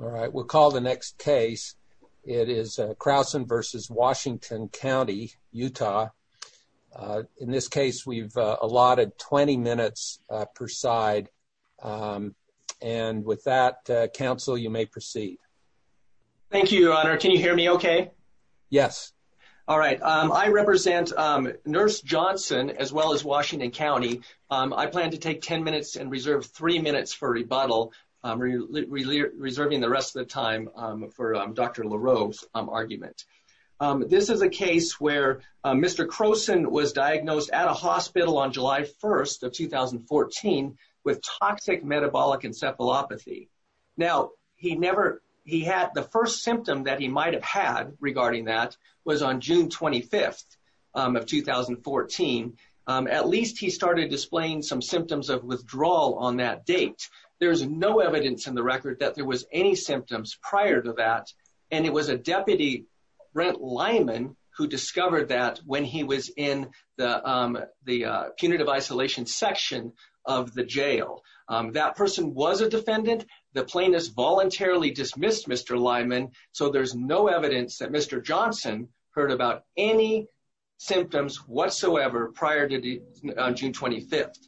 All right, we'll call the next case. It is Crowson v. Washington County, Utah. In this case, we've allotted 20 minutes per side. And with that, counsel, you may proceed. Thank you, Your Honor. Can you hear me okay? Yes. All right. I represent Nurse Johnson as well as Washington County. I plan to take 10 minutes and reserve three minutes for rebuttal, reserving the rest of the time for Dr. LaRoe's argument. This is a case where Mr. Crowson was diagnosed at a hospital on July 1st of 2014 with toxic metabolic encephalopathy. Now, he never, he had the first symptom that he might have had regarding that was on June 25th of 2014. At least he started displaying some symptoms of withdrawal on that date. There's no evidence in the record that there was any symptoms prior to that. And it was a deputy, Brent Lyman, who discovered that when he was in the punitive isolation section of the jail. That person was a defendant. The plaintiffs voluntarily dismissed Mr. Lyman. So there's no evidence that Mr. Johnson heard about any symptoms whatsoever prior to June 25th.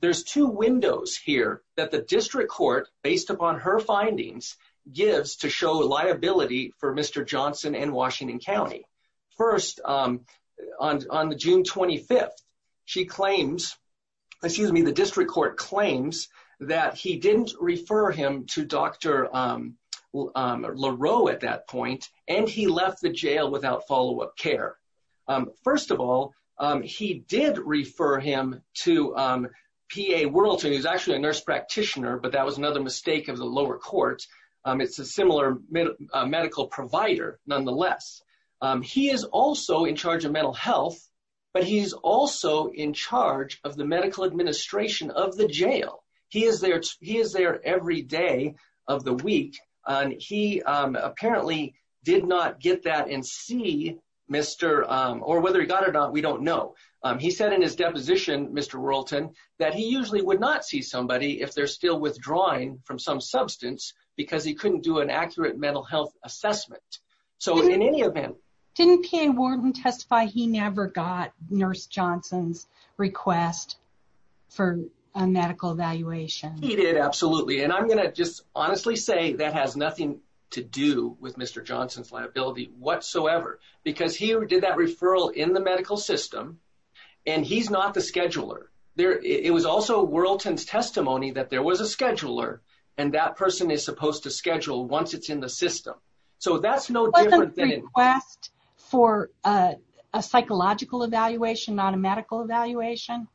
There's two windows here that the district court based upon her findings gives to show liability for Mr. Johnson and Washington County. First, on the June 25th, she claims, excuse me, the district court claims that he didn't refer him to Dr. LaRoe at that point and he left the jail without follow-up care. First of all, he did refer him to P.A. Wurlton, who's actually a nurse practitioner, but that was another mistake of the lower court. It's a similar medical provider, nonetheless. He is also in charge of mental health, but he's also in charge of the medical administration of the jail. He is there every day of the week. He apparently did not get that and see Mr. or whether he got it or not, we don't know. He said in his deposition, Mr. Wurlton, that he usually would not see somebody if they're still withdrawing from some substance because he couldn't do an accurate mental health assessment. So in any event, didn't P.A. Wurlton testify he never got nurse Johnson's request for a medical evaluation? He did. Absolutely. And I'm going to just honestly say that has nothing to do with Mr. Johnson's liability whatsoever because he did that referral in the medical system and he's not the scheduler. It was also Wurlton's testimony that there was a scheduler and that person is supposed to schedule once it's in the system. So that's no different than... Was it a request for a psychological evaluation, not a medical evaluation?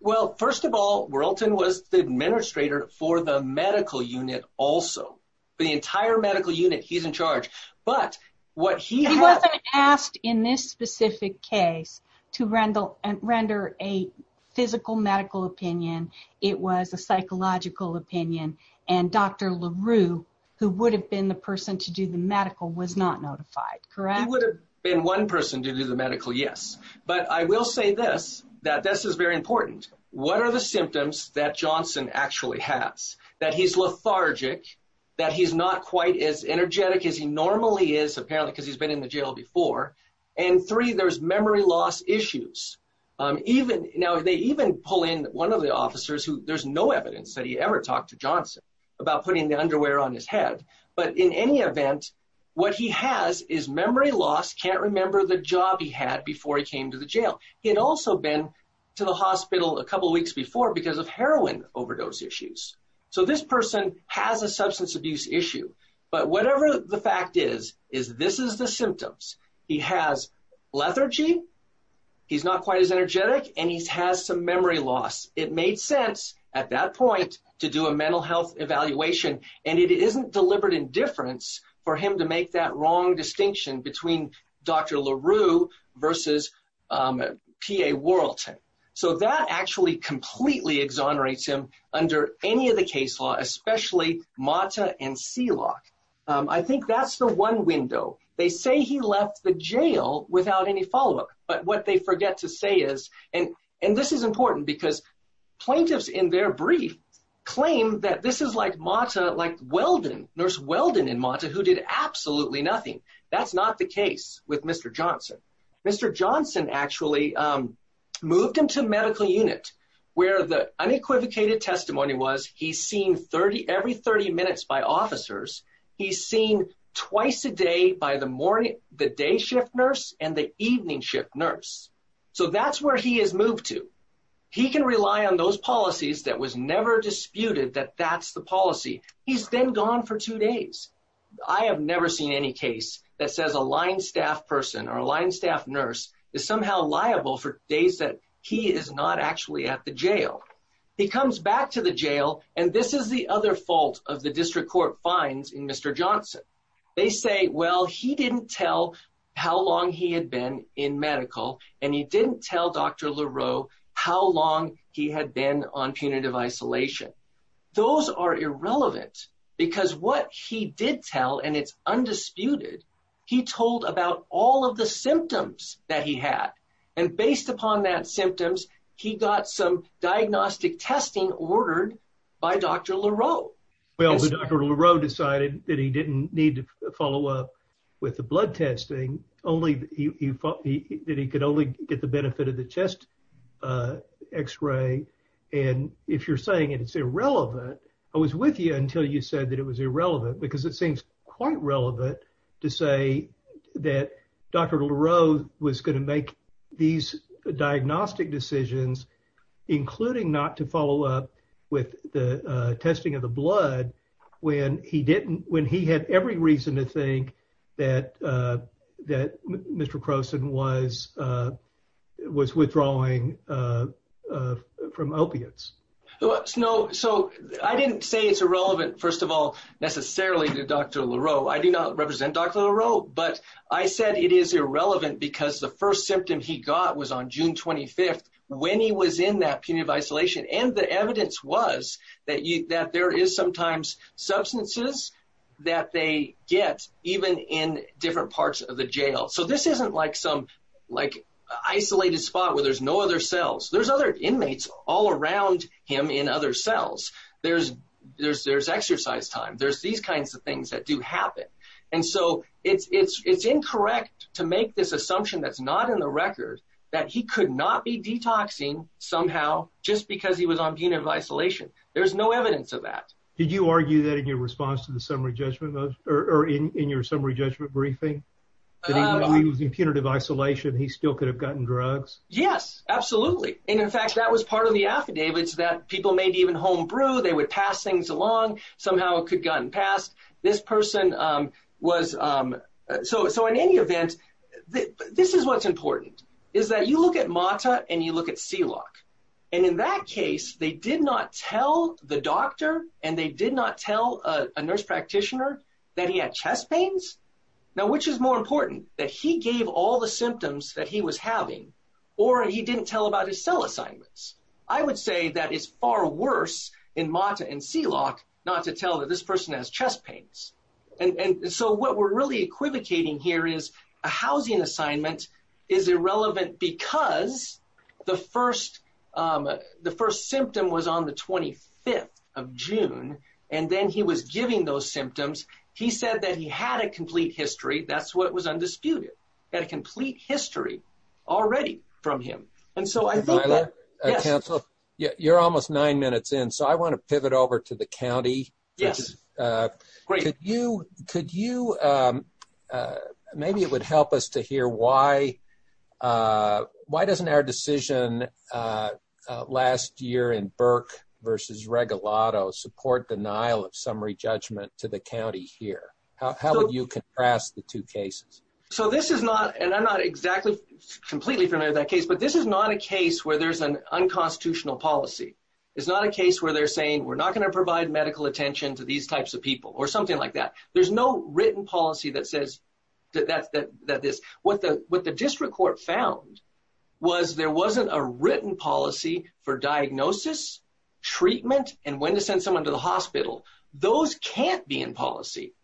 Well, first of all, Wurlton was the administrator for the medical unit also. The entire medical unit, he's in charge, but what he... He wasn't asked in this specific case to render a physical medical opinion. It was a psychological opinion and Dr. LaRue, who would have been the person to do the medical, was not notified, correct? He would have been one person to do the medical, yes. But I will say this, that this is very that he's lethargic, that he's not quite as energetic as he normally is apparently because he's been in the jail before. And three, there's memory loss issues. Now, they even pull in one of the officers who there's no evidence that he ever talked to Johnson about putting the underwear on his head. But in any event, what he has is memory loss, can't remember the job he had before he came to the jail. He had also been to the hospital a couple of weeks before because of heroin overdose issues. So this person has a substance abuse issue. But whatever the fact is, is this is the symptoms. He has lethargy, he's not quite as energetic, and he has some memory loss. It made sense at that point to do a mental health evaluation. And it isn't deliberate indifference for him to make that wrong distinction between Dr. LaRue versus P.A. Whirlton. So that actually completely exonerates him under any of the case law, especially Mata and Sealock. I think that's the one window. They say he left the jail without any follow-up, but what they forget to say is, and this is important because plaintiffs in their brief claim that this is like Mata, like Weldon, Nurse Weldon and Mata, who did absolutely nothing. That's not the case with Mr. Johnson. Mr. Johnson actually moved into medical unit where the unequivocated testimony was he's seen every 30 minutes by officers. He's seen twice a day by the day shift nurse and the evening shift nurse. So that's where he has moved to. He can rely on those policies that was never disputed that that's the policy. He's been gone for two that says a line staff person or a line staff nurse is somehow liable for days that he is not actually at the jail. He comes back to the jail and this is the other fault of the district court fines in Mr. Johnson. They say, well, he didn't tell how long he had been in medical and he didn't tell Dr. LaRue how long he had been on punitive isolation. Those are irrelevant because what he did tell, and it's undisputed, he told about all of the symptoms that he had. And based upon that symptoms, he got some diagnostic testing ordered by Dr. LaRue. Well, Dr. LaRue decided that he didn't need to follow up with the blood testing only that he could only get the benefit of the chest x-ray. And if you're saying it's irrelevant, I was with you until you said that it was irrelevant because it seems quite relevant to say that Dr. LaRue was going to make these diagnostic decisions, including not to follow up with the testing of the blood when he didn't, when he had every reason to think that Mr. Croson was withdrawing from opiates. No, so I didn't say it's irrelevant, first of all, necessarily to Dr. LaRue. I do not represent Dr. LaRue, but I said it is irrelevant because the first symptom he got was on June 25th when he was in that punitive isolation. And the evidence was that there is sometimes substances that they get even in different parts of the jail. So this isn't like some him in other cells. There's exercise time. There's these kinds of things that do happen. And so it's incorrect to make this assumption that's not in the record that he could not be detoxing somehow just because he was on punitive isolation. There's no evidence of that. Did you argue that in your response to the summary judgment or in your summary judgment briefing that he was in punitive isolation, he still could have gotten drugs? Yes, absolutely. And in fact, that was part of the affidavits that people made even homebrew. They would pass things along. Somehow it could have gotten passed. So in any event, this is what's important is that you look at MATA and you look at C-LOC. And in that case, they did not tell the doctor and they did not tell a nurse practitioner that he had chest pains. Now, which is more important, that he gave all the symptoms that he was having, or he didn't tell about his cell assignments? I would say that it's far worse in MATA and C-LOC not to tell that this person has chest pains. And so what we're really equivocating here is a housing assignment is irrelevant because the first symptom was on the 25th of June, and then he was giving those symptoms. He said that he had a complete history. That's what was undisputed. He had a complete history already from him. And so I think that, yes. You're almost nine minutes in. So I want to pivot over to the county. Yes. Great. Maybe it would help us to hear why doesn't our decision last year in Burke versus Regalado support denial of summary judgment to the county here? How would you contrast the two cases? So this is not, and I'm not exactly completely familiar with that case, but this is not a case where there's an unconstitutional policy. It's not a case where they're saying, we're not going to provide medical attention to these types of people or something like that. There's no written policy that says that this, what the district court found was there wasn't a written policy for diagnosis, treatment, and when to send someone to the hospital. Those can't be in policy.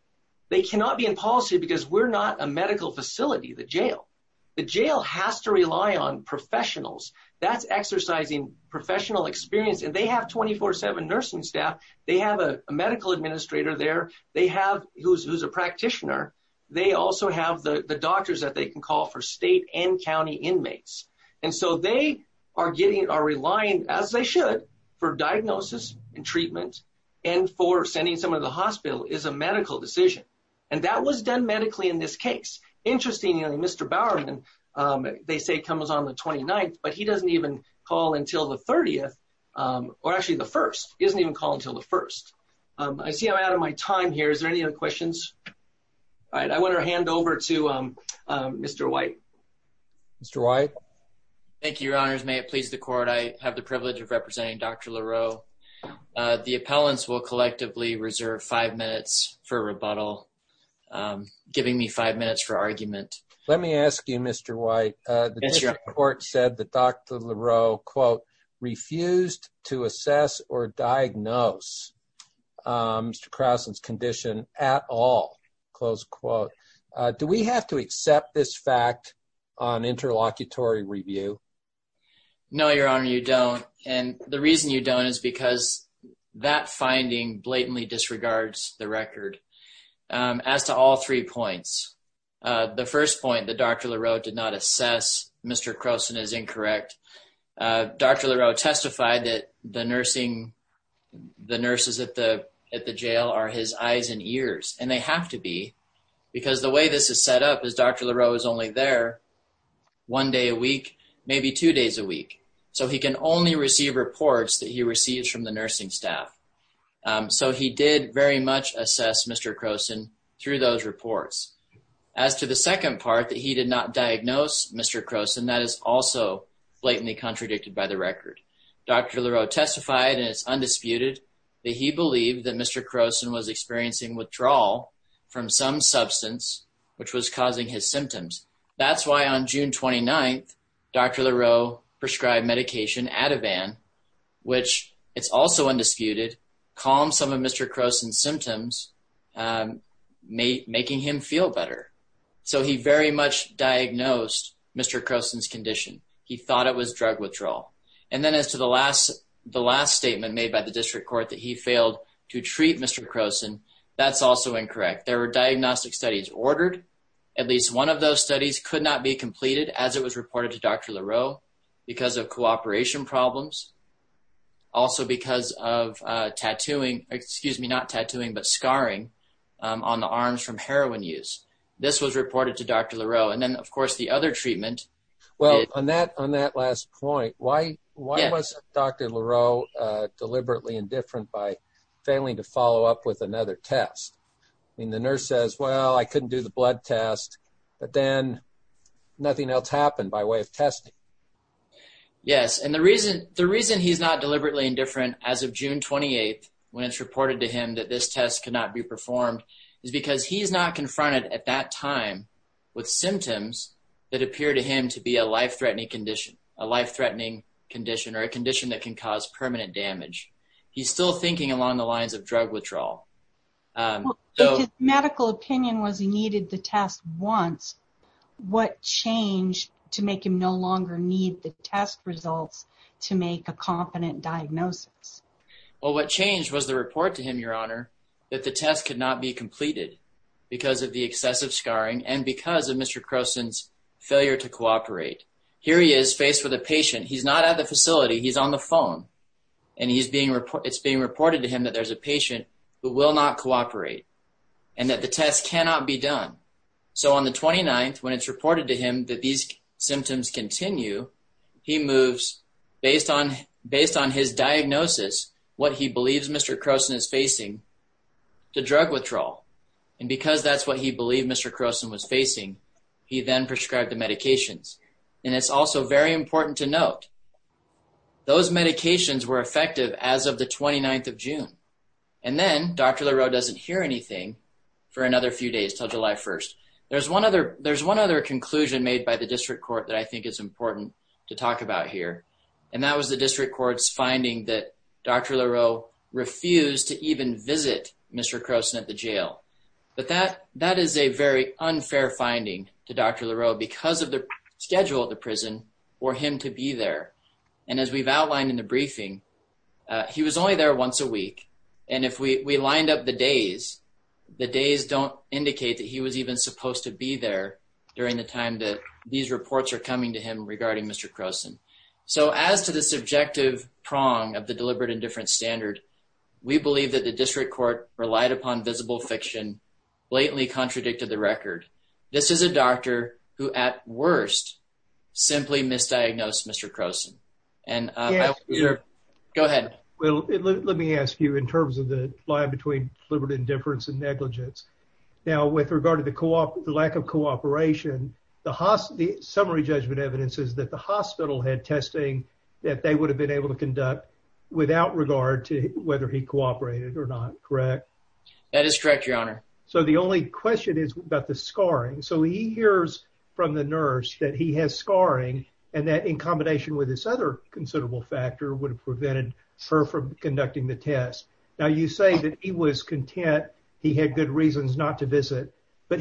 They cannot be in policy because we're not a medical facility, the jail. The jail has to rely on professionals. That's exercising professional experience. And they have 24-7 nursing staff. They have a medical administrator there. They have, who's a practitioner. They also have the doctors that they can call for state and county inmates. And so they are getting, are relying as they should for diagnosis and treatment and for sending someone to the hospital is a medical decision. And that was done medically in this case. Interestingly, Mr. Bowerman, they say comes on the 29th, but he doesn't even call until the 30th or actually the 1st. He doesn't even call until the 1st. I see I'm out of my time here. Is there Thank you, your honors. May it please the court. I have the privilege of representing Dr. LaRoe. The appellants will collectively reserve five minutes for rebuttal, giving me five minutes for argument. Let me ask you, Mr. White, the district court said that Dr. LaRoe, quote, refused to assess or diagnose Mr. Crossland's condition at all, close quote. Do we have to accept this fact on interlocutory review? No, your honor, you don't. And the reason you don't is because that finding blatantly disregards the record. As to all three points, the first point that Dr. LaRoe did not assess Mr. Crossland is incorrect. Dr. LaRoe testified that the nursing, the nurses at the jail are his eyes and ears, and they have to be because the way this is set up is Dr. LaRoe is only there one day a week, maybe two days a week. So he can only receive reports that he receives from the nursing staff. So he did very much assess Mr. Crossland through those reports. As to the second part that he did not diagnose Mr. Crossland, that is also blatantly contradicted by the record. Dr. LaRoe testified and it's undisputed that he believed that Mr. Crossland was experiencing withdrawal from some substance, which was causing his symptoms. That's why on June 29th, Dr. LaRoe prescribed medication, Ativan, which it's also undisputed, calmed some of Mr. Crossland's symptoms, making him feel better. So he very much diagnosed Mr. Crossland's condition. He thought it was drug withdrawal. And then as to the last statement made by the district court that he failed to treat Mr. Crossland, that's also incorrect. There were diagnostic studies ordered. At least one of those studies could not be completed as it was reported to Dr. LaRoe because of cooperation problems. Also because of tattooing, excuse me, not tattooing, but scarring on the arms from heroin use. This was reported to Dr. LaRoe. And then of course the other treatment. Well, on that last point, why was Dr. LaRoe deliberately indifferent by failing to follow up with another test? I mean, the nurse says, well, I couldn't do the blood test, but then nothing else happened by way of testing. Yes. And the reason he's not deliberately indifferent as of June 28th, when it's reported to him that this test could not be performed is because he's not confronted at that time with symptoms that appear to him to be a life-threatening condition, a life-threatening condition, or a condition that can cause permanent damage. He's still thinking along the lines of drug withdrawal. If his medical opinion was he needed the test once, what changed to make him no longer need the test results to make a competent diagnosis? Well, what changed was the report to him, your honor, that the test could not be completed because of the excessive scarring and because of Mr. Croson's failure to cooperate. Here he is faced with a patient. He's not at the facility. He's on the phone and it's being reported to him that there's a patient who will not cooperate and that the test cannot be done. So on the 29th, when it's reported to him that these symptoms continue, he moves, based on his diagnosis, what he believes Mr. Croson is facing to drug withdrawal. And because that's what he believed Mr. Croson was facing, he then prescribed the medications. And it's also very important to note, those medications were effective as of the 29th of June. And then Dr. Leroux doesn't hear anything for another few days until July 1st. There's one other conclusion made by the district court that I think is important to talk about here. And that was the district court's finding that Dr. Leroux refused to even visit Mr. Croson at the jail. But that is a very unfair finding to Dr. Leroux because of the schedule at the prison for him to be there. And as we've outlined in the briefing, he was only there once a week. And if we lined up the days, the days don't indicate that he was supposed to be there during the time that these reports are coming to him regarding Mr. Croson. So as to the subjective prong of the deliberate indifference standard, we believe that the district court relied upon visible fiction, blatantly contradicted the record. This is a doctor who, at worst, simply misdiagnosed Mr. Croson. Go ahead. Well, let me ask you in terms of the line between deliberate indifference and negligence. Now, with regard to the lack of cooperation, the summary judgment evidence is that the hospital had testing that they would have been able to conduct without regard to whether he cooperated or not, correct? That is correct, Your Honor. So the only question is about the scarring. So he hears from the nurse that he has scarring and that in combination with this other considerable factor would have prevented her from conducting the test. Now, you say that he was content, he had good reasons not to visit, but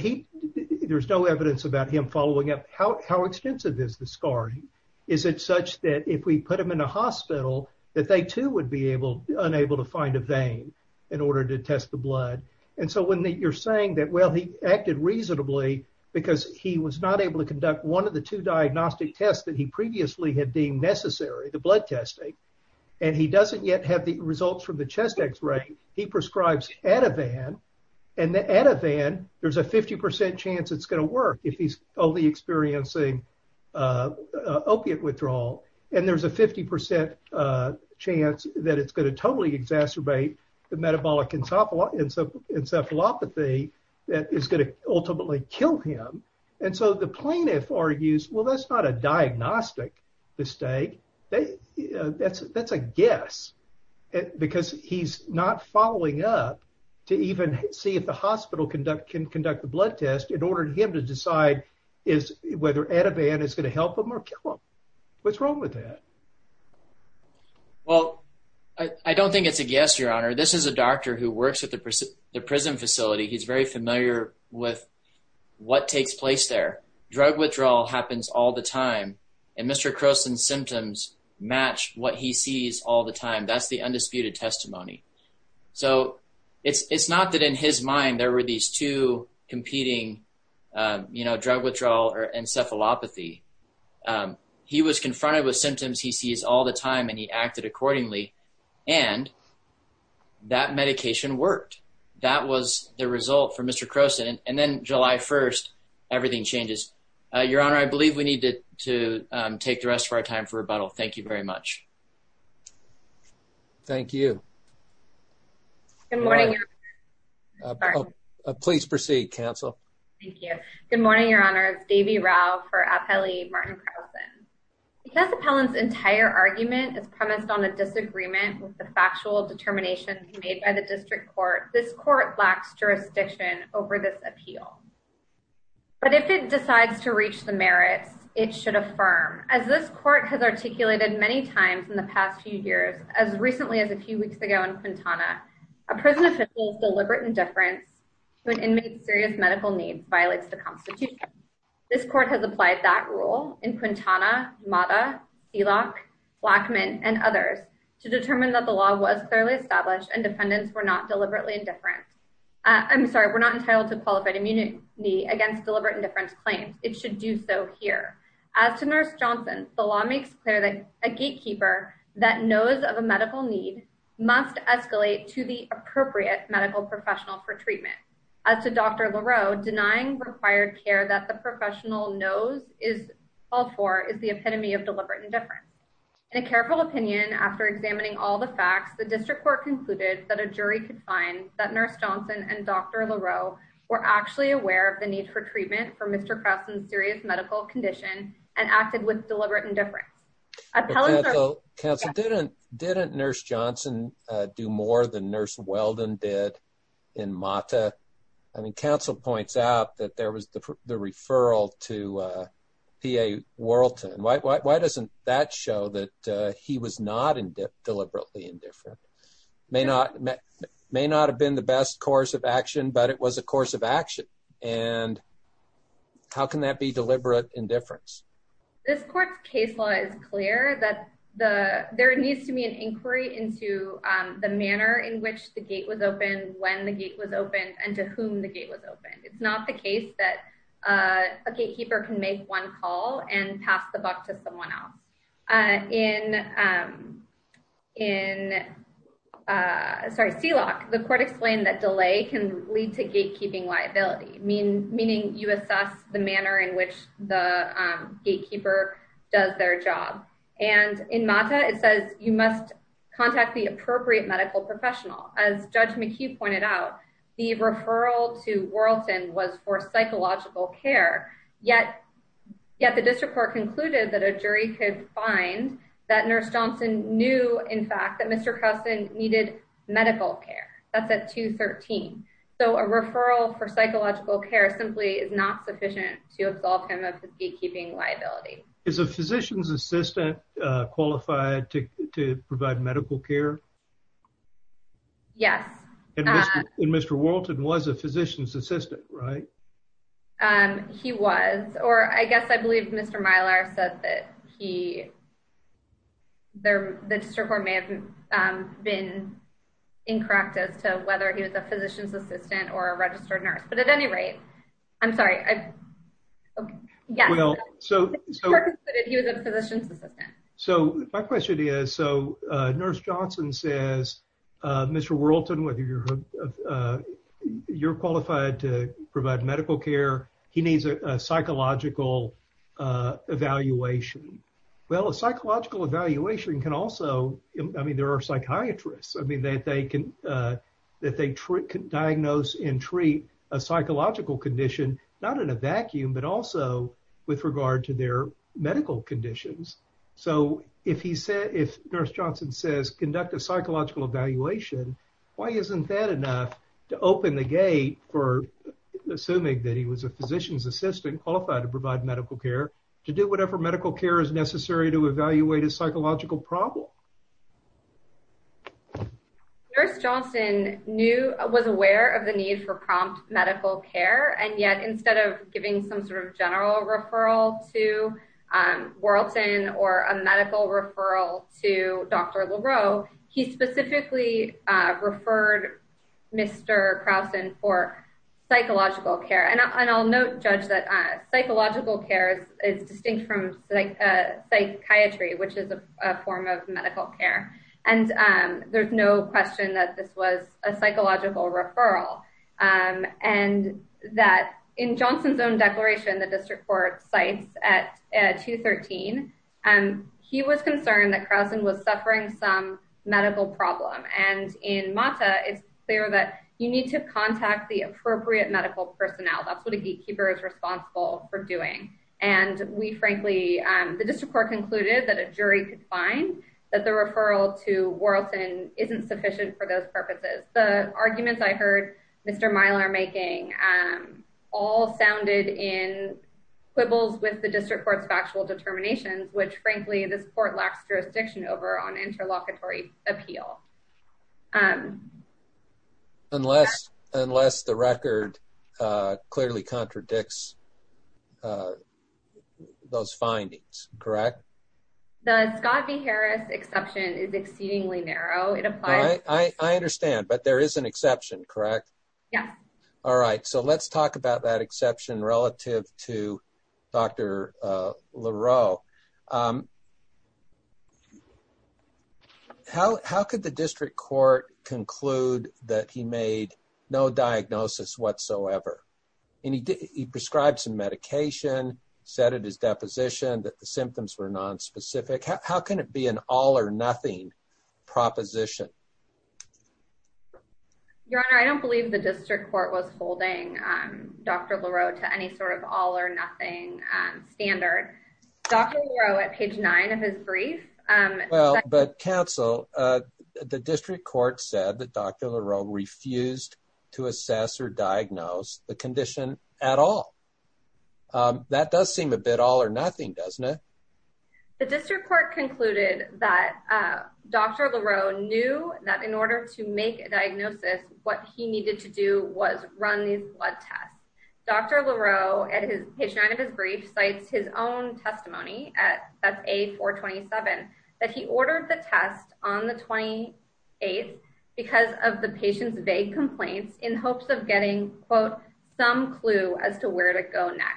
there's no evidence about him following up. How extensive is the scarring? Is it such that if we put him in a hospital that they too would be unable to find a vein in order to test the blood? And so when you're saying that, well, he acted reasonably because he was not able to conduct one of the two diagnostic tests that he previously had deemed necessary, the blood testing, and he doesn't yet have the results from the chest X-ray, he prescribes Ativan. And the Ativan, there's a 50% chance it's going to work if he's only experiencing opiate withdrawal. And there's a 50% chance that it's going to totally exacerbate the metabolic encephalopathy that is going to ultimately kill him. And so the plaintiff argues, well, that's not a diagnostic mistake. That's a guess because he's not following up to even see if the hospital can conduct the blood test in order for him to decide whether Ativan is going to help him or kill him. What's wrong with that? Well, I don't think it's a guess, Your Honor. This is a doctor who works at the prison facility. He's very familiar with what takes place there. Drug withdrawal happens all the time. And Mr. Croson's symptoms match what he sees all the time. That's the undisputed testimony. So it's not that in his mind there were these two competing, you know, drug withdrawal or encephalopathy. He was confronted with symptoms he sees all the time and he acted accordingly. And that medication worked. That was the result for Mr. Croson. And then July 1st, everything changes. Your Honor, I believe we need to take the rest of our time for rebuttal. Thank you very much. Thank you. Good morning, Your Honor. Please proceed, counsel. Thank you. Good morning, Your Honor. It's Devi Rao for Appellee Martin Croson. The constable's entire argument is premised on a disagreement with the factual determination made by the district court. This court lacks jurisdiction over this appeal. But if it decides to reach the merits, it should affirm. As this court has articulated many times in the past few years, as recently as a few weeks ago in Quintana, a prison official's deliberate indifference to an inmate's serious medical needs violates the Constitution. This court has applied that rule in Quintana, Mata, Selock, Blackman, and others to determine that the law was clearly established and defendants were not deliberately indifferent. I'm sorry, we're not entitled to against deliberate indifference claims. It should do so here. As to Nurse Johnson, the law makes clear that a gatekeeper that knows of a medical need must escalate to the appropriate medical professional for treatment. As to Dr. Leroux, denying required care that the professional knows is called for is the epitome of deliberate indifference. In a careful opinion after examining all the facts, the district court concluded that a jury could find that Nurse Johnson and Dr. Leroux were actually aware of the need for treatment for Mr. Krausen's serious medical condition and acted with deliberate indifference. Counsel, didn't Nurse Johnson do more than Nurse Weldon did in Mata? I mean, counsel points out that there was the referral to PA Worlton. Why doesn't that show that he was not deliberately indifferent? May not have been the best course action, but it was a course of action. And how can that be deliberate indifference? This court's case law is clear that the there needs to be an inquiry into the manner in which the gate was opened, when the gate was opened, and to whom the gate was opened. It's not the case that a gatekeeper can make one call and pass the buck to someone else. In, in, uh, sorry, sealock, the court explained that delay can lead to gatekeeping liability mean, meaning you assess the manner in which the gatekeeper does their job. And in Mata, it says you must contact the appropriate medical professional. As Judge McHugh pointed out, the referral to Worlton was for psychological care. Yet, yet the district court concluded that jury could find that Nurse Johnson knew, in fact, that Mr. Carson needed medical care. That's at 213. So a referral for psychological care simply is not sufficient to absolve him of the gatekeeping liability. Is a physician's assistant qualified to provide medical care? Yes. And Mr. Worlton was a physician's assistant, right? Um, he was, or I guess I believe Mr. Mylar said that he, there, the district court may have been incorrect as to whether he was a physician's assistant or a registered nurse. But at any rate, I'm sorry. Yes. So he was a physician's assistant. So my question is, so Nurse Johnson says, uh, Mr. Worlton, whether you're, uh, you're qualified to provide medical care, he needs a psychological, uh, evaluation. Well, a psychological evaluation can also, I mean, there are psychiatrists, I mean, that they can, uh, that they treat, can diagnose and treat a psychological condition, not in a vacuum, but also with regard to their medical conditions. So if he said, if Nurse Johnson says conduct a psychological evaluation, why isn't that enough to open the gate for assuming that he was a physician's assistant qualified to provide medical care to do whatever medical care is necessary to evaluate his psychological problem? Nurse Johnson knew, was aware of the need for prompt medical care. And yet, instead of giving some sort of general referral to, um, Worlton or a medical referral to Dr. Leroux, he specifically, uh, referred Mr. Krausen for psychological care. And I'll note, judge that, uh, psychological care is distinct from psychiatry, which is a form of medical care. And, um, there's no question that this was a psychological referral. Um, and that in Johnson's declaration, the district court sites at 2.13, um, he was concerned that Krausen was suffering some medical problem. And in MATA it's clear that you need to contact the appropriate medical personnel. That's what a gatekeeper is responsible for doing. And we frankly, um, the district court concluded that a jury could find that the referral to Worlton isn't sufficient for those purposes. The arguments I heard Mr. Mylar making, um, all sounded in quibbles with the district court's factual determinations, which frankly, this court lacks jurisdiction over on interlocutory appeal. Um, unless, unless the record, uh, clearly contradicts, uh, those findings, correct? The Scott v. Harris exception is exceedingly narrow. It applies. I understand, but there is an exception, correct? Yeah. All right. So let's talk about that exception relative to Dr. Leroux. Um, how, how could the district court conclude that he made no diagnosis whatsoever? And he did, he prescribed some medication, said at his deposition that the symptoms were nonspecific. How can it be an all or nothing proposition? Your Honor, I don't believe the district court was holding, um, Dr. Leroux to any sort of all or nothing, um, standard Dr. Leroux at page nine of his brief. Um, Well, but counsel, uh, the district court said that Dr. Leroux refused to assess or diagnose the condition at all. Um, that does seem a bit all or nothing, doesn't it? The district court concluded that, uh, Dr. Leroux knew that in order to make a diagnosis, what he needed to do was run these blood tests. Dr. Leroux at his page nine of his brief sites, his own testimony at that's a four 27, that he ordered the test on the 28th because of the some clue as to where to go next.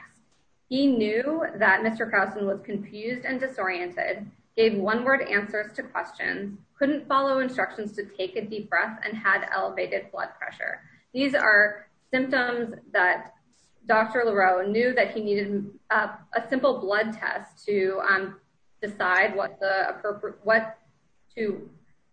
He knew that Mr. Carlson was confused and disoriented, gave one word answers to questions, couldn't follow instructions to take a deep breath and had elevated blood pressure. These are symptoms that Dr. Leroux knew that he needed a simple blood test to, um, decide what the appropriate, what to,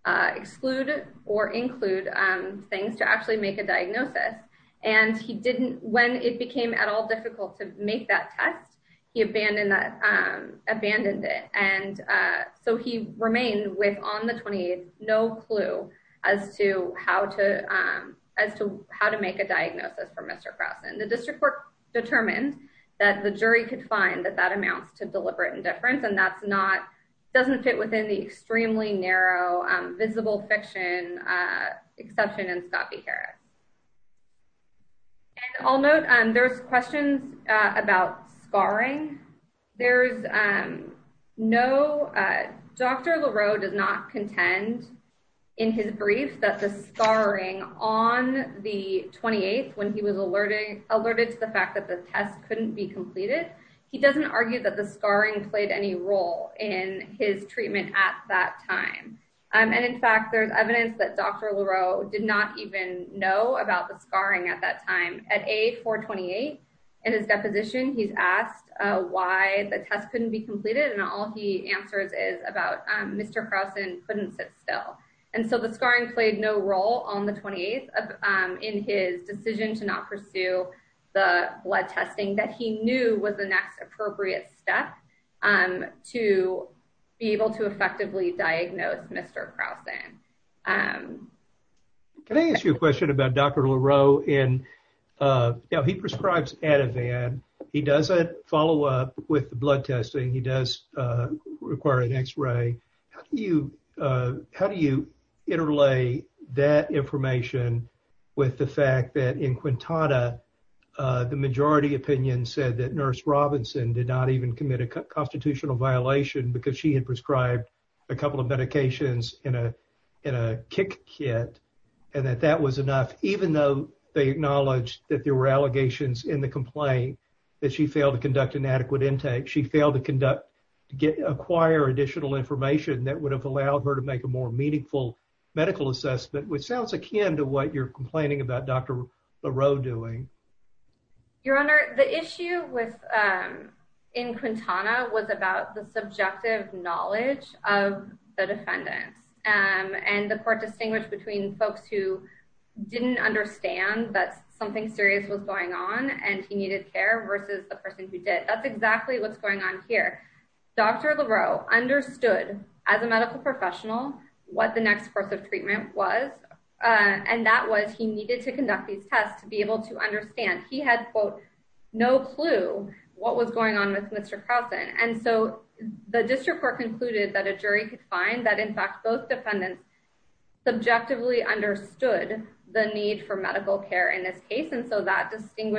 uh, exclude or include, um, things to make a diagnosis. And he didn't, when it became at all difficult to make that test, he abandoned that, um, abandoned it. And, uh, so he remained with on the 28th, no clue as to how to, um, as to how to make a diagnosis for Mr. Carlson, the district court determined that the jury could find that that amounts to deliberate indifference. And that's not, doesn't fit within the extremely narrow, um, visible fiction, uh, exception in Scott B. Harris. And I'll note, um, there's questions, uh, about scarring. There's, um, no, uh, Dr. Leroux does not contend in his brief that the scarring on the 28th, when he was alerted, alerted to the fact that the test couldn't be Um, and in fact, there's evidence that Dr. Leroux did not even know about the scarring at that time at age 428 and his deposition, he's asked, uh, why the test couldn't be completed. And all he answers is about, um, Mr. Carlson couldn't sit still. And so the scarring played no role on the 28th, um, in his decision to not pursue the blood testing that he knew was the next appropriate step, um, to be able to effectively diagnose Mr. Carlson. Um, can I ask you a question about Dr. Leroux? And, uh, you know, he prescribes Ativan. He doesn't follow up with the blood testing. He does, uh, require an x-ray. How do you, uh, how do you interlay that information with the fact that in Quintana, uh, the majority opinion said that Nurse Robinson did not even commit a constitutional violation because she had prescribed a couple of medications in a, in a kick kit and that that was enough, even though they acknowledged that there were allegations in the complaint that she failed to conduct an adequate intake. She failed to conduct, get, acquire additional information that would have allowed her to make a more meaningful medical assessment, which sounds akin to what you're complaining about Dr. Leroux doing. Your Honor, the issue with, um, in Quintana was about the subjective knowledge of the defendants, um, and the court distinguished between folks who didn't understand that something serious was going on and he needed care versus the person who did. That's exactly what's going on here. Dr. Leroux understood as a medical professional what the next course of treatment was, uh, and that was he needed to conduct these tests to be able to understand he had quote, no clue what was going on with Mr. Croson. And so the district court concluded that a jury could find that in fact, both defendants subjectively understood the need for medical care in this case. And so that additional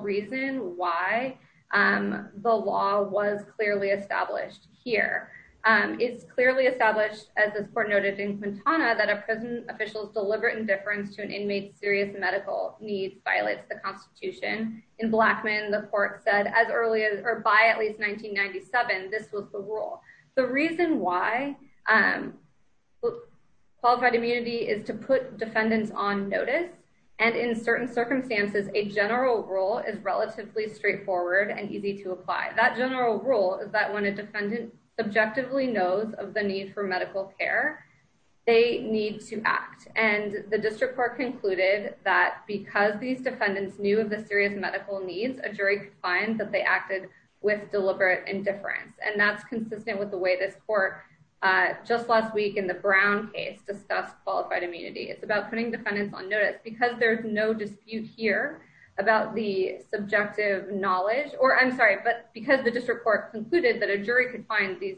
reason why, um, the law was clearly established here. Um, it's clearly established as this court noted in Quintana that a prison official's deliberate indifference to an inmate's serious medical needs violates the constitution. In Blackman, the court said as early as, or by at least 1997, this was the rule. The reason why, um, qualified immunity is to put defendants on notice. And in certain circumstances, a general rule is relatively straightforward and easy to apply. That general rule is that when a defendant subjectively knows of the need for medical care, they need to act. And the district court concluded that because these defendants knew of the serious medical needs, a jury could find that they acted with deliberate indifference. And that's consistent with the way this court, uh, just last week in the Brown case discussed qualified immunity. It's putting defendants on notice because there's no dispute here about the subjective knowledge, or I'm sorry, but because the district court concluded that a jury could find these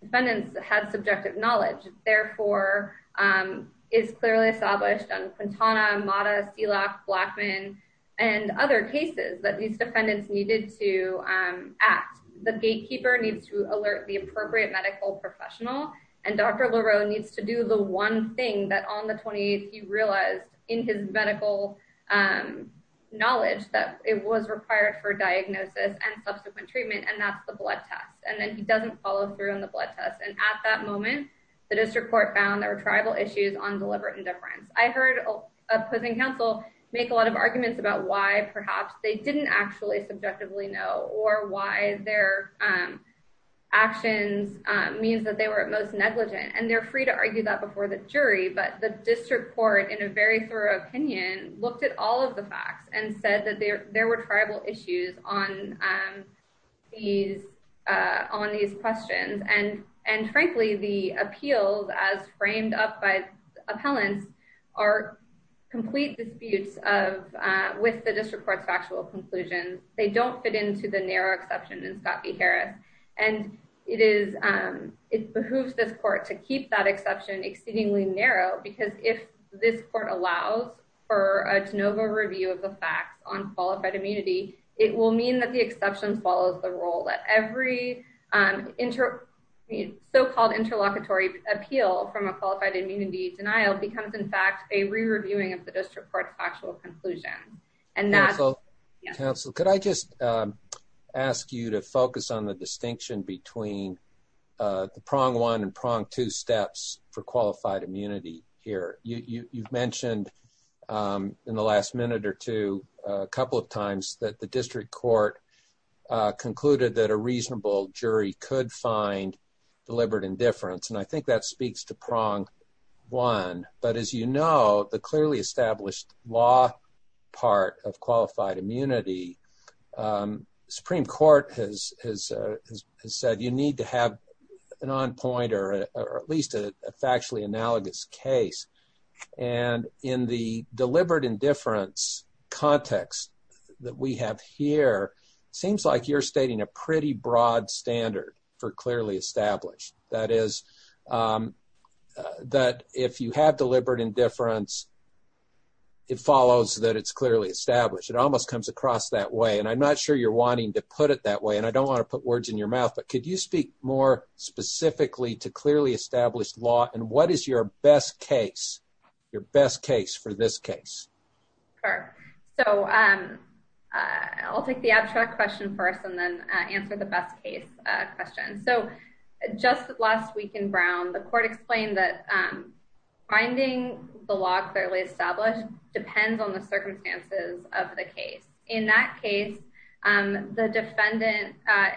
defendants had subjective knowledge, therefore, um, is clearly established on Quintana, Mata, Sealock, Blackman, and other cases that these defendants needed to, um, act. The gatekeeper needs to alert the appropriate medical professional. And Dr. Leroux needs to do the one thing that on the he realized in his medical, um, knowledge that it was required for diagnosis and subsequent treatment, and that's the blood test. And then he doesn't follow through on the blood test. And at that moment, the district court found there were tribal issues on deliberate indifference. I heard opposing counsel make a lot of arguments about why perhaps they didn't actually subjectively know, or why their, um, actions, um, means that they were at most negligent. And they're free to argue that before the jury, but the district court, in a very thorough opinion, looked at all of the facts and said that there, there were tribal issues on, um, these, uh, on these questions. And, and frankly, the appeals as framed up by appellants are complete disputes of, uh, with the district court's factual conclusions. They don't fit into the narrow exception in Scott v. Harris. And it is, um, it behooves this court to keep that exception exceedingly narrow, because if this court allows for a de novo review of the facts on qualified immunity, it will mean that the exception follows the role that every, um, inter, I mean, so-called interlocutory appeal from a qualified immunity denial becomes, in fact, a re-reviewing of the district court's conclusion. And that's- Counsel, counsel, could I just, um, ask you to focus on the distinction between, uh, the prong one and prong two steps for qualified immunity here? You, you, you've mentioned, um, in the last minute or two, a couple of times that the district court, uh, concluded that a reasonable jury could find deliberate indifference. And I think that speaks to prong one, but as you know, the clearly established law part of qualified immunity, um, Supreme Court has, has, uh, has said, you need to have an on point or a, or at least a factually analogous case. And in the deliberate indifference context that we have here, it seems like you're stating a pretty clear case. And I'm not sure you're wanting to put it that way and I don't want to put words in your mouth, but could you speak more specifically to clearly established law? And what is your best case, your best case for this case? Sure. So, um, uh, I'll take the abstract question first and then, uh, answer the best case, uh, So just last week in Brown, the court explained that, um, finding the law clearly established depends on the circumstances of the case. In that case, um, the defendant, uh,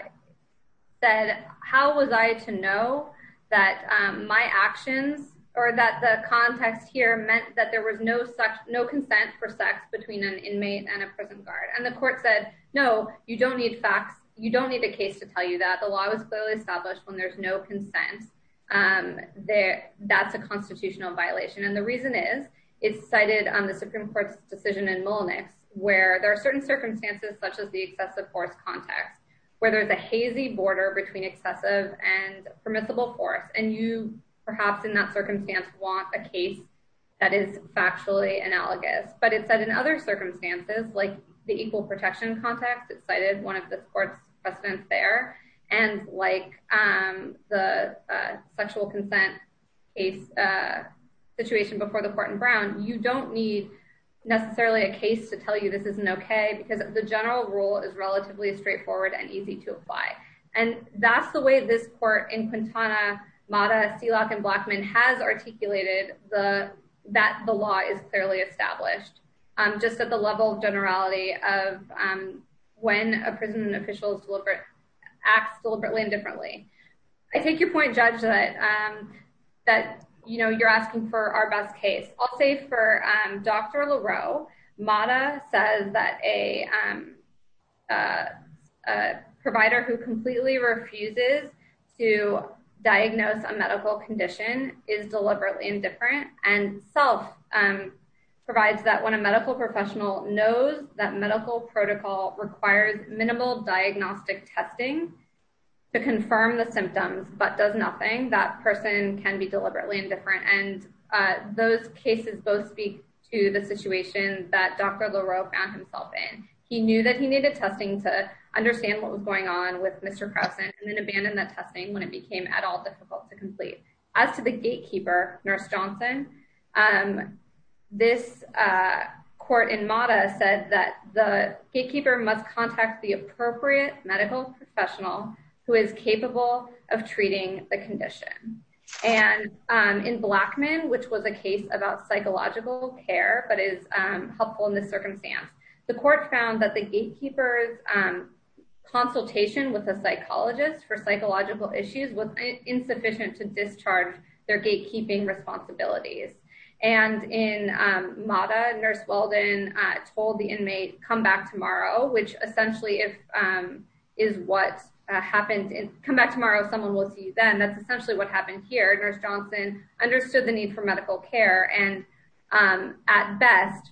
said, how was I to know that, um, my actions or that the context here meant that there was no such, no consent for sex between an inmate and a prison guard. And the court said, no, you don't need a case to tell you that the law was clearly established when there's no consent. Um, there that's a constitutional violation. And the reason is it's cited on the Supreme Court's decision in Mullenix where there are certain circumstances, such as the excessive force context, whether it's a hazy border between excessive and permissible force. And you perhaps in that circumstance want a case that is factually analogous, but it said in other circumstances, like the equal protection context, it cited one of the court's precedents there. And like, um, the, uh, sexual consent case, uh, situation before the court in Brown, you don't need necessarily a case to tell you this isn't okay because the general rule is relatively straightforward and easy to apply. And that's the way this court in Quintana, Mata, Seelock, and Blackman has articulated the, that the law is clearly established, um, just at the level of generality of, um, when a prison official is deliberate, acts deliberately and differently. I take your point judge that, um, that, you know, you're asking for our best case. I'll say for, um, Dr. Leroux, Mata says that a, um, uh, uh, who completely refuses to diagnose a medical condition is deliberately indifferent and self, um, provides that when a medical professional knows that medical protocol requires minimal diagnostic testing to confirm the symptoms, but does nothing that person can be deliberately indifferent. And, uh, those cases both speak to the situation that Dr. Leroux found himself in. He knew that he needed testing to understand what was going on with Mr. Krausen and then abandoned that testing when it became at all difficult to complete. As to the gatekeeper, nurse Johnson, um, this, uh, court in Mata said that the gatekeeper must contact the appropriate medical professional who is capable of treating the condition. And, um, in Blackman, which was about psychological care, but is, um, helpful in this circumstance, the court found that the gatekeepers, um, consultation with a psychologist for psychological issues was insufficient to discharge their gatekeeping responsibilities. And in, um, Mata nurse Weldon, uh, told the inmate come back tomorrow, which essentially if, um, is what happened in come back tomorrow. Someone will see you then that's essentially what happened here. Nurse Johnson understood the need for medical care and, um, at best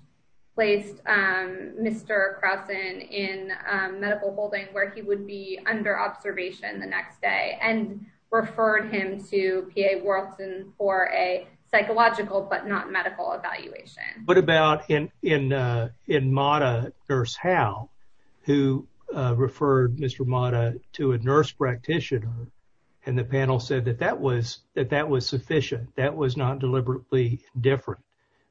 placed, um, Mr. Krausen in, um, medical holding where he would be under observation the next day and referred him to PA Worlton for a psychological, but not medical evaluation. What about in, uh, in Mata nurse Howell, who, uh, referred Mr. Mata to a nurse practitioner and the panel said that that was, that that was sufficient, that was not deliberately different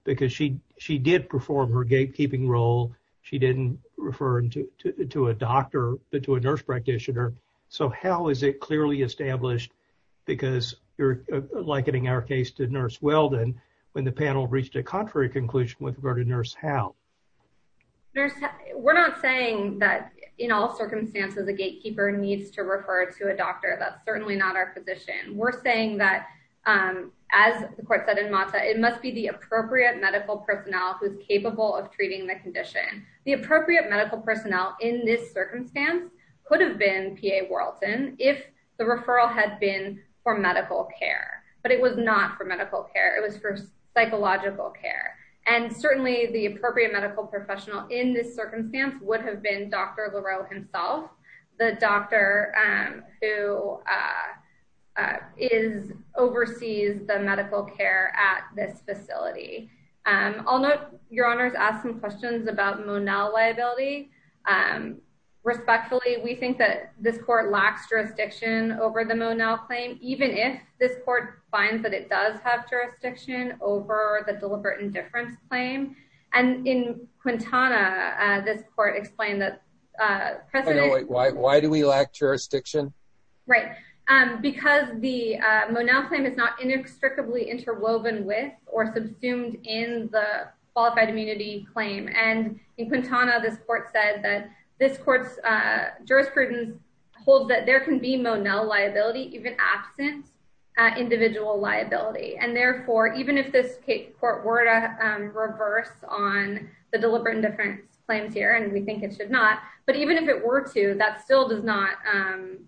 because she, she did perform her gatekeeping role. She didn't refer to, to, to a doctor, but to a nurse practitioner. So how is it clearly established because you're likening our case to nurse Weldon when the panel reached a contrary nurse Howell. We're not saying that in all circumstances, the gatekeeper needs to refer to a doctor. That's certainly not our position. We're saying that, um, as the court said in Mata, it must be the appropriate medical personnel who's capable of treating the condition. The appropriate medical personnel in this circumstance could have been PA Worlton if the referral had been for medical care, but it was not for medical care. It was for psychological care. And certainly the appropriate medical professional in this circumstance would have been Dr. Leroux himself. The doctor, um, who, uh, uh, is oversees the medical care at this facility. Um, I'll note your honors asked some questions about Monell liability. Um, respectfully, we think that this court lacks jurisdiction over the Monell claim, even if this court finds that it does have jurisdiction over the deliberate indifference claim. And in Quintana, uh, this court explained that, uh, why do we lack jurisdiction? Right. Um, because the, uh, Monell claim is not inextricably interwoven with or subsumed in the qualified immunity claim. And in Quintana, this court said that this court's, uh, jurisprudence holds that there can be Monell liability, even absent, uh, individual liability. And therefore, even if this court were to, um, reverse on the deliberate indifference claims here, and we think it should not, but even if it were to, that still does not, um,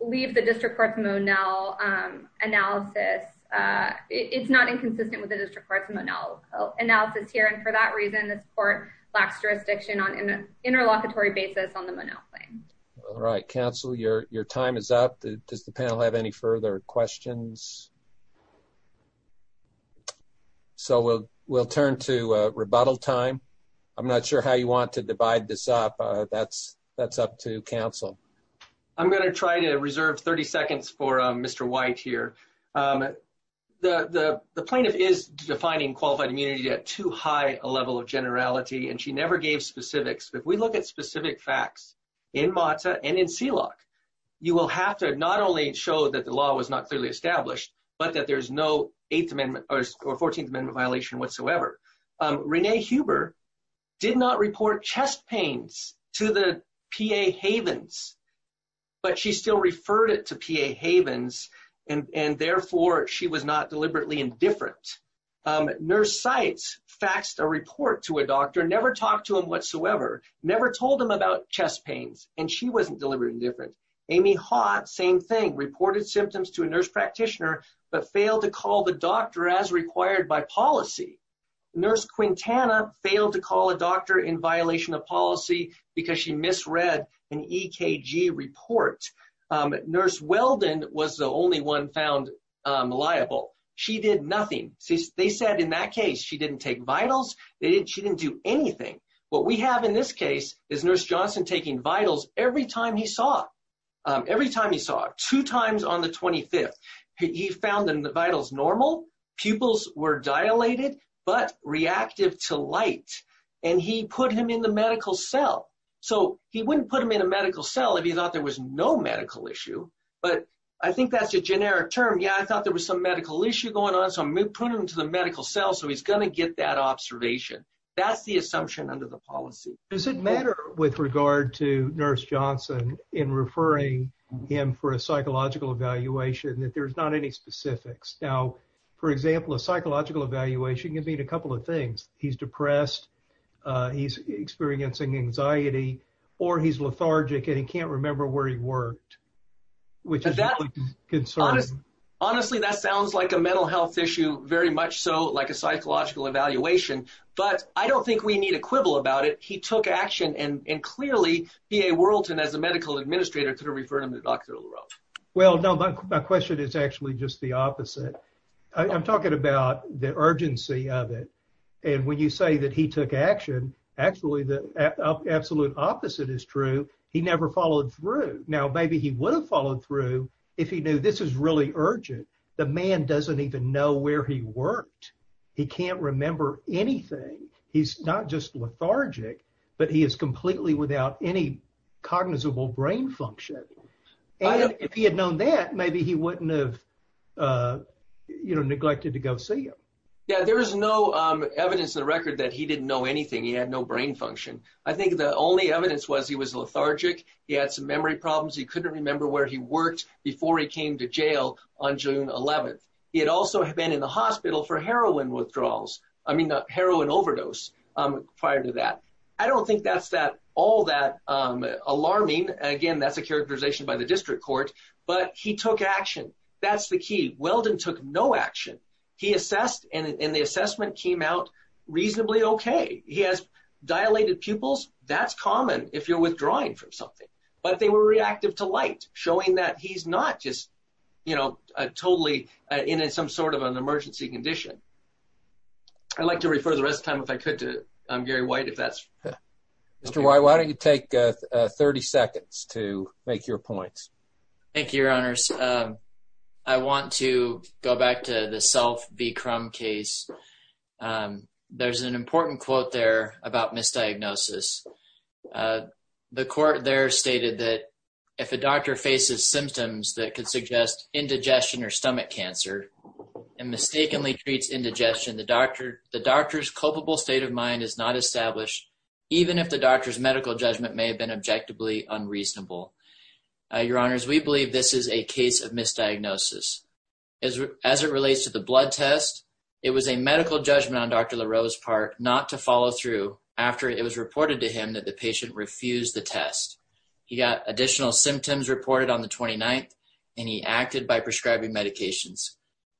leave the district court's Monell, um, analysis. Uh, it's not inconsistent with the district court's Monell analysis here. And for that reason, this court lacks jurisdiction on an interlocutory basis on the Monell claim. All right, counsel, your, your time is up. Does the panel have any further questions? So we'll, we'll turn to a rebuttal time. I'm not sure how you want to divide this up. Uh, that's, that's up to counsel. I'm going to try to reserve 30 seconds for, um, Mr. White here. Um, the, the, the plaintiff is defining qualified immunity at too high a level of generality, and she never gave specifics. If we look at specific facts in Mata and in Sealock, you will have to not only show that the law was not clearly established, but that there's no eighth amendment or 14th amendment violation whatsoever. Um, Renee Huber did not report chest pains to the PA Havens, but she still referred it to PA Havens. And, and therefore she was not deliberately indifferent. Um, nurse Sites faxed a report to a doctor, never talked to him whatsoever, never told him about chest pains, and she wasn't deliberately indifferent. Amy Haught, same thing, reported symptoms to a nurse practitioner, but failed to call the doctor as required by policy. Nurse Quintana failed to call a doctor in violation of policy because she misread an EKG report. Um, nurse Weldon was the only one found, um, liable. She did nothing. See, they said in that case she didn't take vitals. They didn't, she didn't do anything. What we have in this case is nurse Johnson taking vitals every time he saw, um, every time he saw, two times on the 25th. He found in the vitals normal, pupils were dilated, but reactive to medical cell. So he wouldn't put them in a medical cell if he thought there was no medical issue. But I think that's a generic term. Yeah, I thought there was some medical issue going on. So I'm putting him to the medical cell. So he's going to get that observation. That's the assumption under the policy. Does it matter with regard to nurse Johnson in referring him for a psychological evaluation that there's not any specifics? Now, for example, a psychological evaluation can mean a couple of things. He's depressed. Uh, he's experiencing anxiety or he's lethargic and he can't remember where he worked, which is concerned. Honestly, that sounds like a mental health issue very much. So like a psychological evaluation, but I don't think we need a quibble about it. He took action and, and clearly he, a Whirlton as a medical administrator to refer him to Dr. Well, no, my question is actually just the opposite. I'm talking about the urgency of it. And when you say that he took action, actually the absolute opposite is true. He never followed through. Now, maybe he would have followed through if he knew this is really urgent. The man doesn't even know where he worked. He can't remember anything. He's not just lethargic, but he is if he had known that maybe he wouldn't have, uh, you know, neglected to go see him. Yeah. There was no, um, evidence in the record that he didn't know anything. He had no brain function. I think the only evidence was he was lethargic. He had some memory problems. He couldn't remember where he worked before he came to jail on June 11th. He had also been in the hospital for heroin withdrawals. I mean, not heroin overdose. Um, prior to that, I don't think that's that all that, um, alarming. Again, that's a characterization by the district court, but he took action. That's the key. Weldon took no action. He assessed and the assessment came out reasonably okay. He has dilated pupils. That's common if you're withdrawing from something, but they were reactive to light showing that he's not just, you know, totally in some sort of an emergency condition. I'd like to refer the rest of the time if I could to, um, Gary White, if that's Mr. Why? Why don't you take 30 seconds to make your points? Thank you, your honors. Um, I want to go back to the self be crumb case. Um, there's an important quote there about misdiagnosis. Uh, the court there stated that if a doctor faces symptoms that could suggest indigestion or stomach cancer and mistakenly treats indigestion, the doctor, the doctor's state of mind is not established, even if the doctor's medical judgment may have been objectively unreasonable. Uh, your honors, we believe this is a case of misdiagnosis is as it relates to the blood test. It was a medical judgment on Dr LaRose Park not to follow through after it was reported to him that the patient refused the test. He got additional symptoms reported on the 29th and he acted by prescribing medications.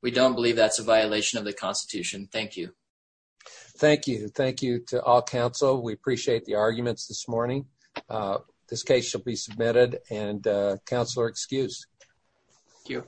We don't believe that's a violation of the Constitution. Thank you. Thank you. Thank you to all council. We appreciate the arguments this morning. Uh, this case shall be submitted and, uh, counselor excused. Thank you.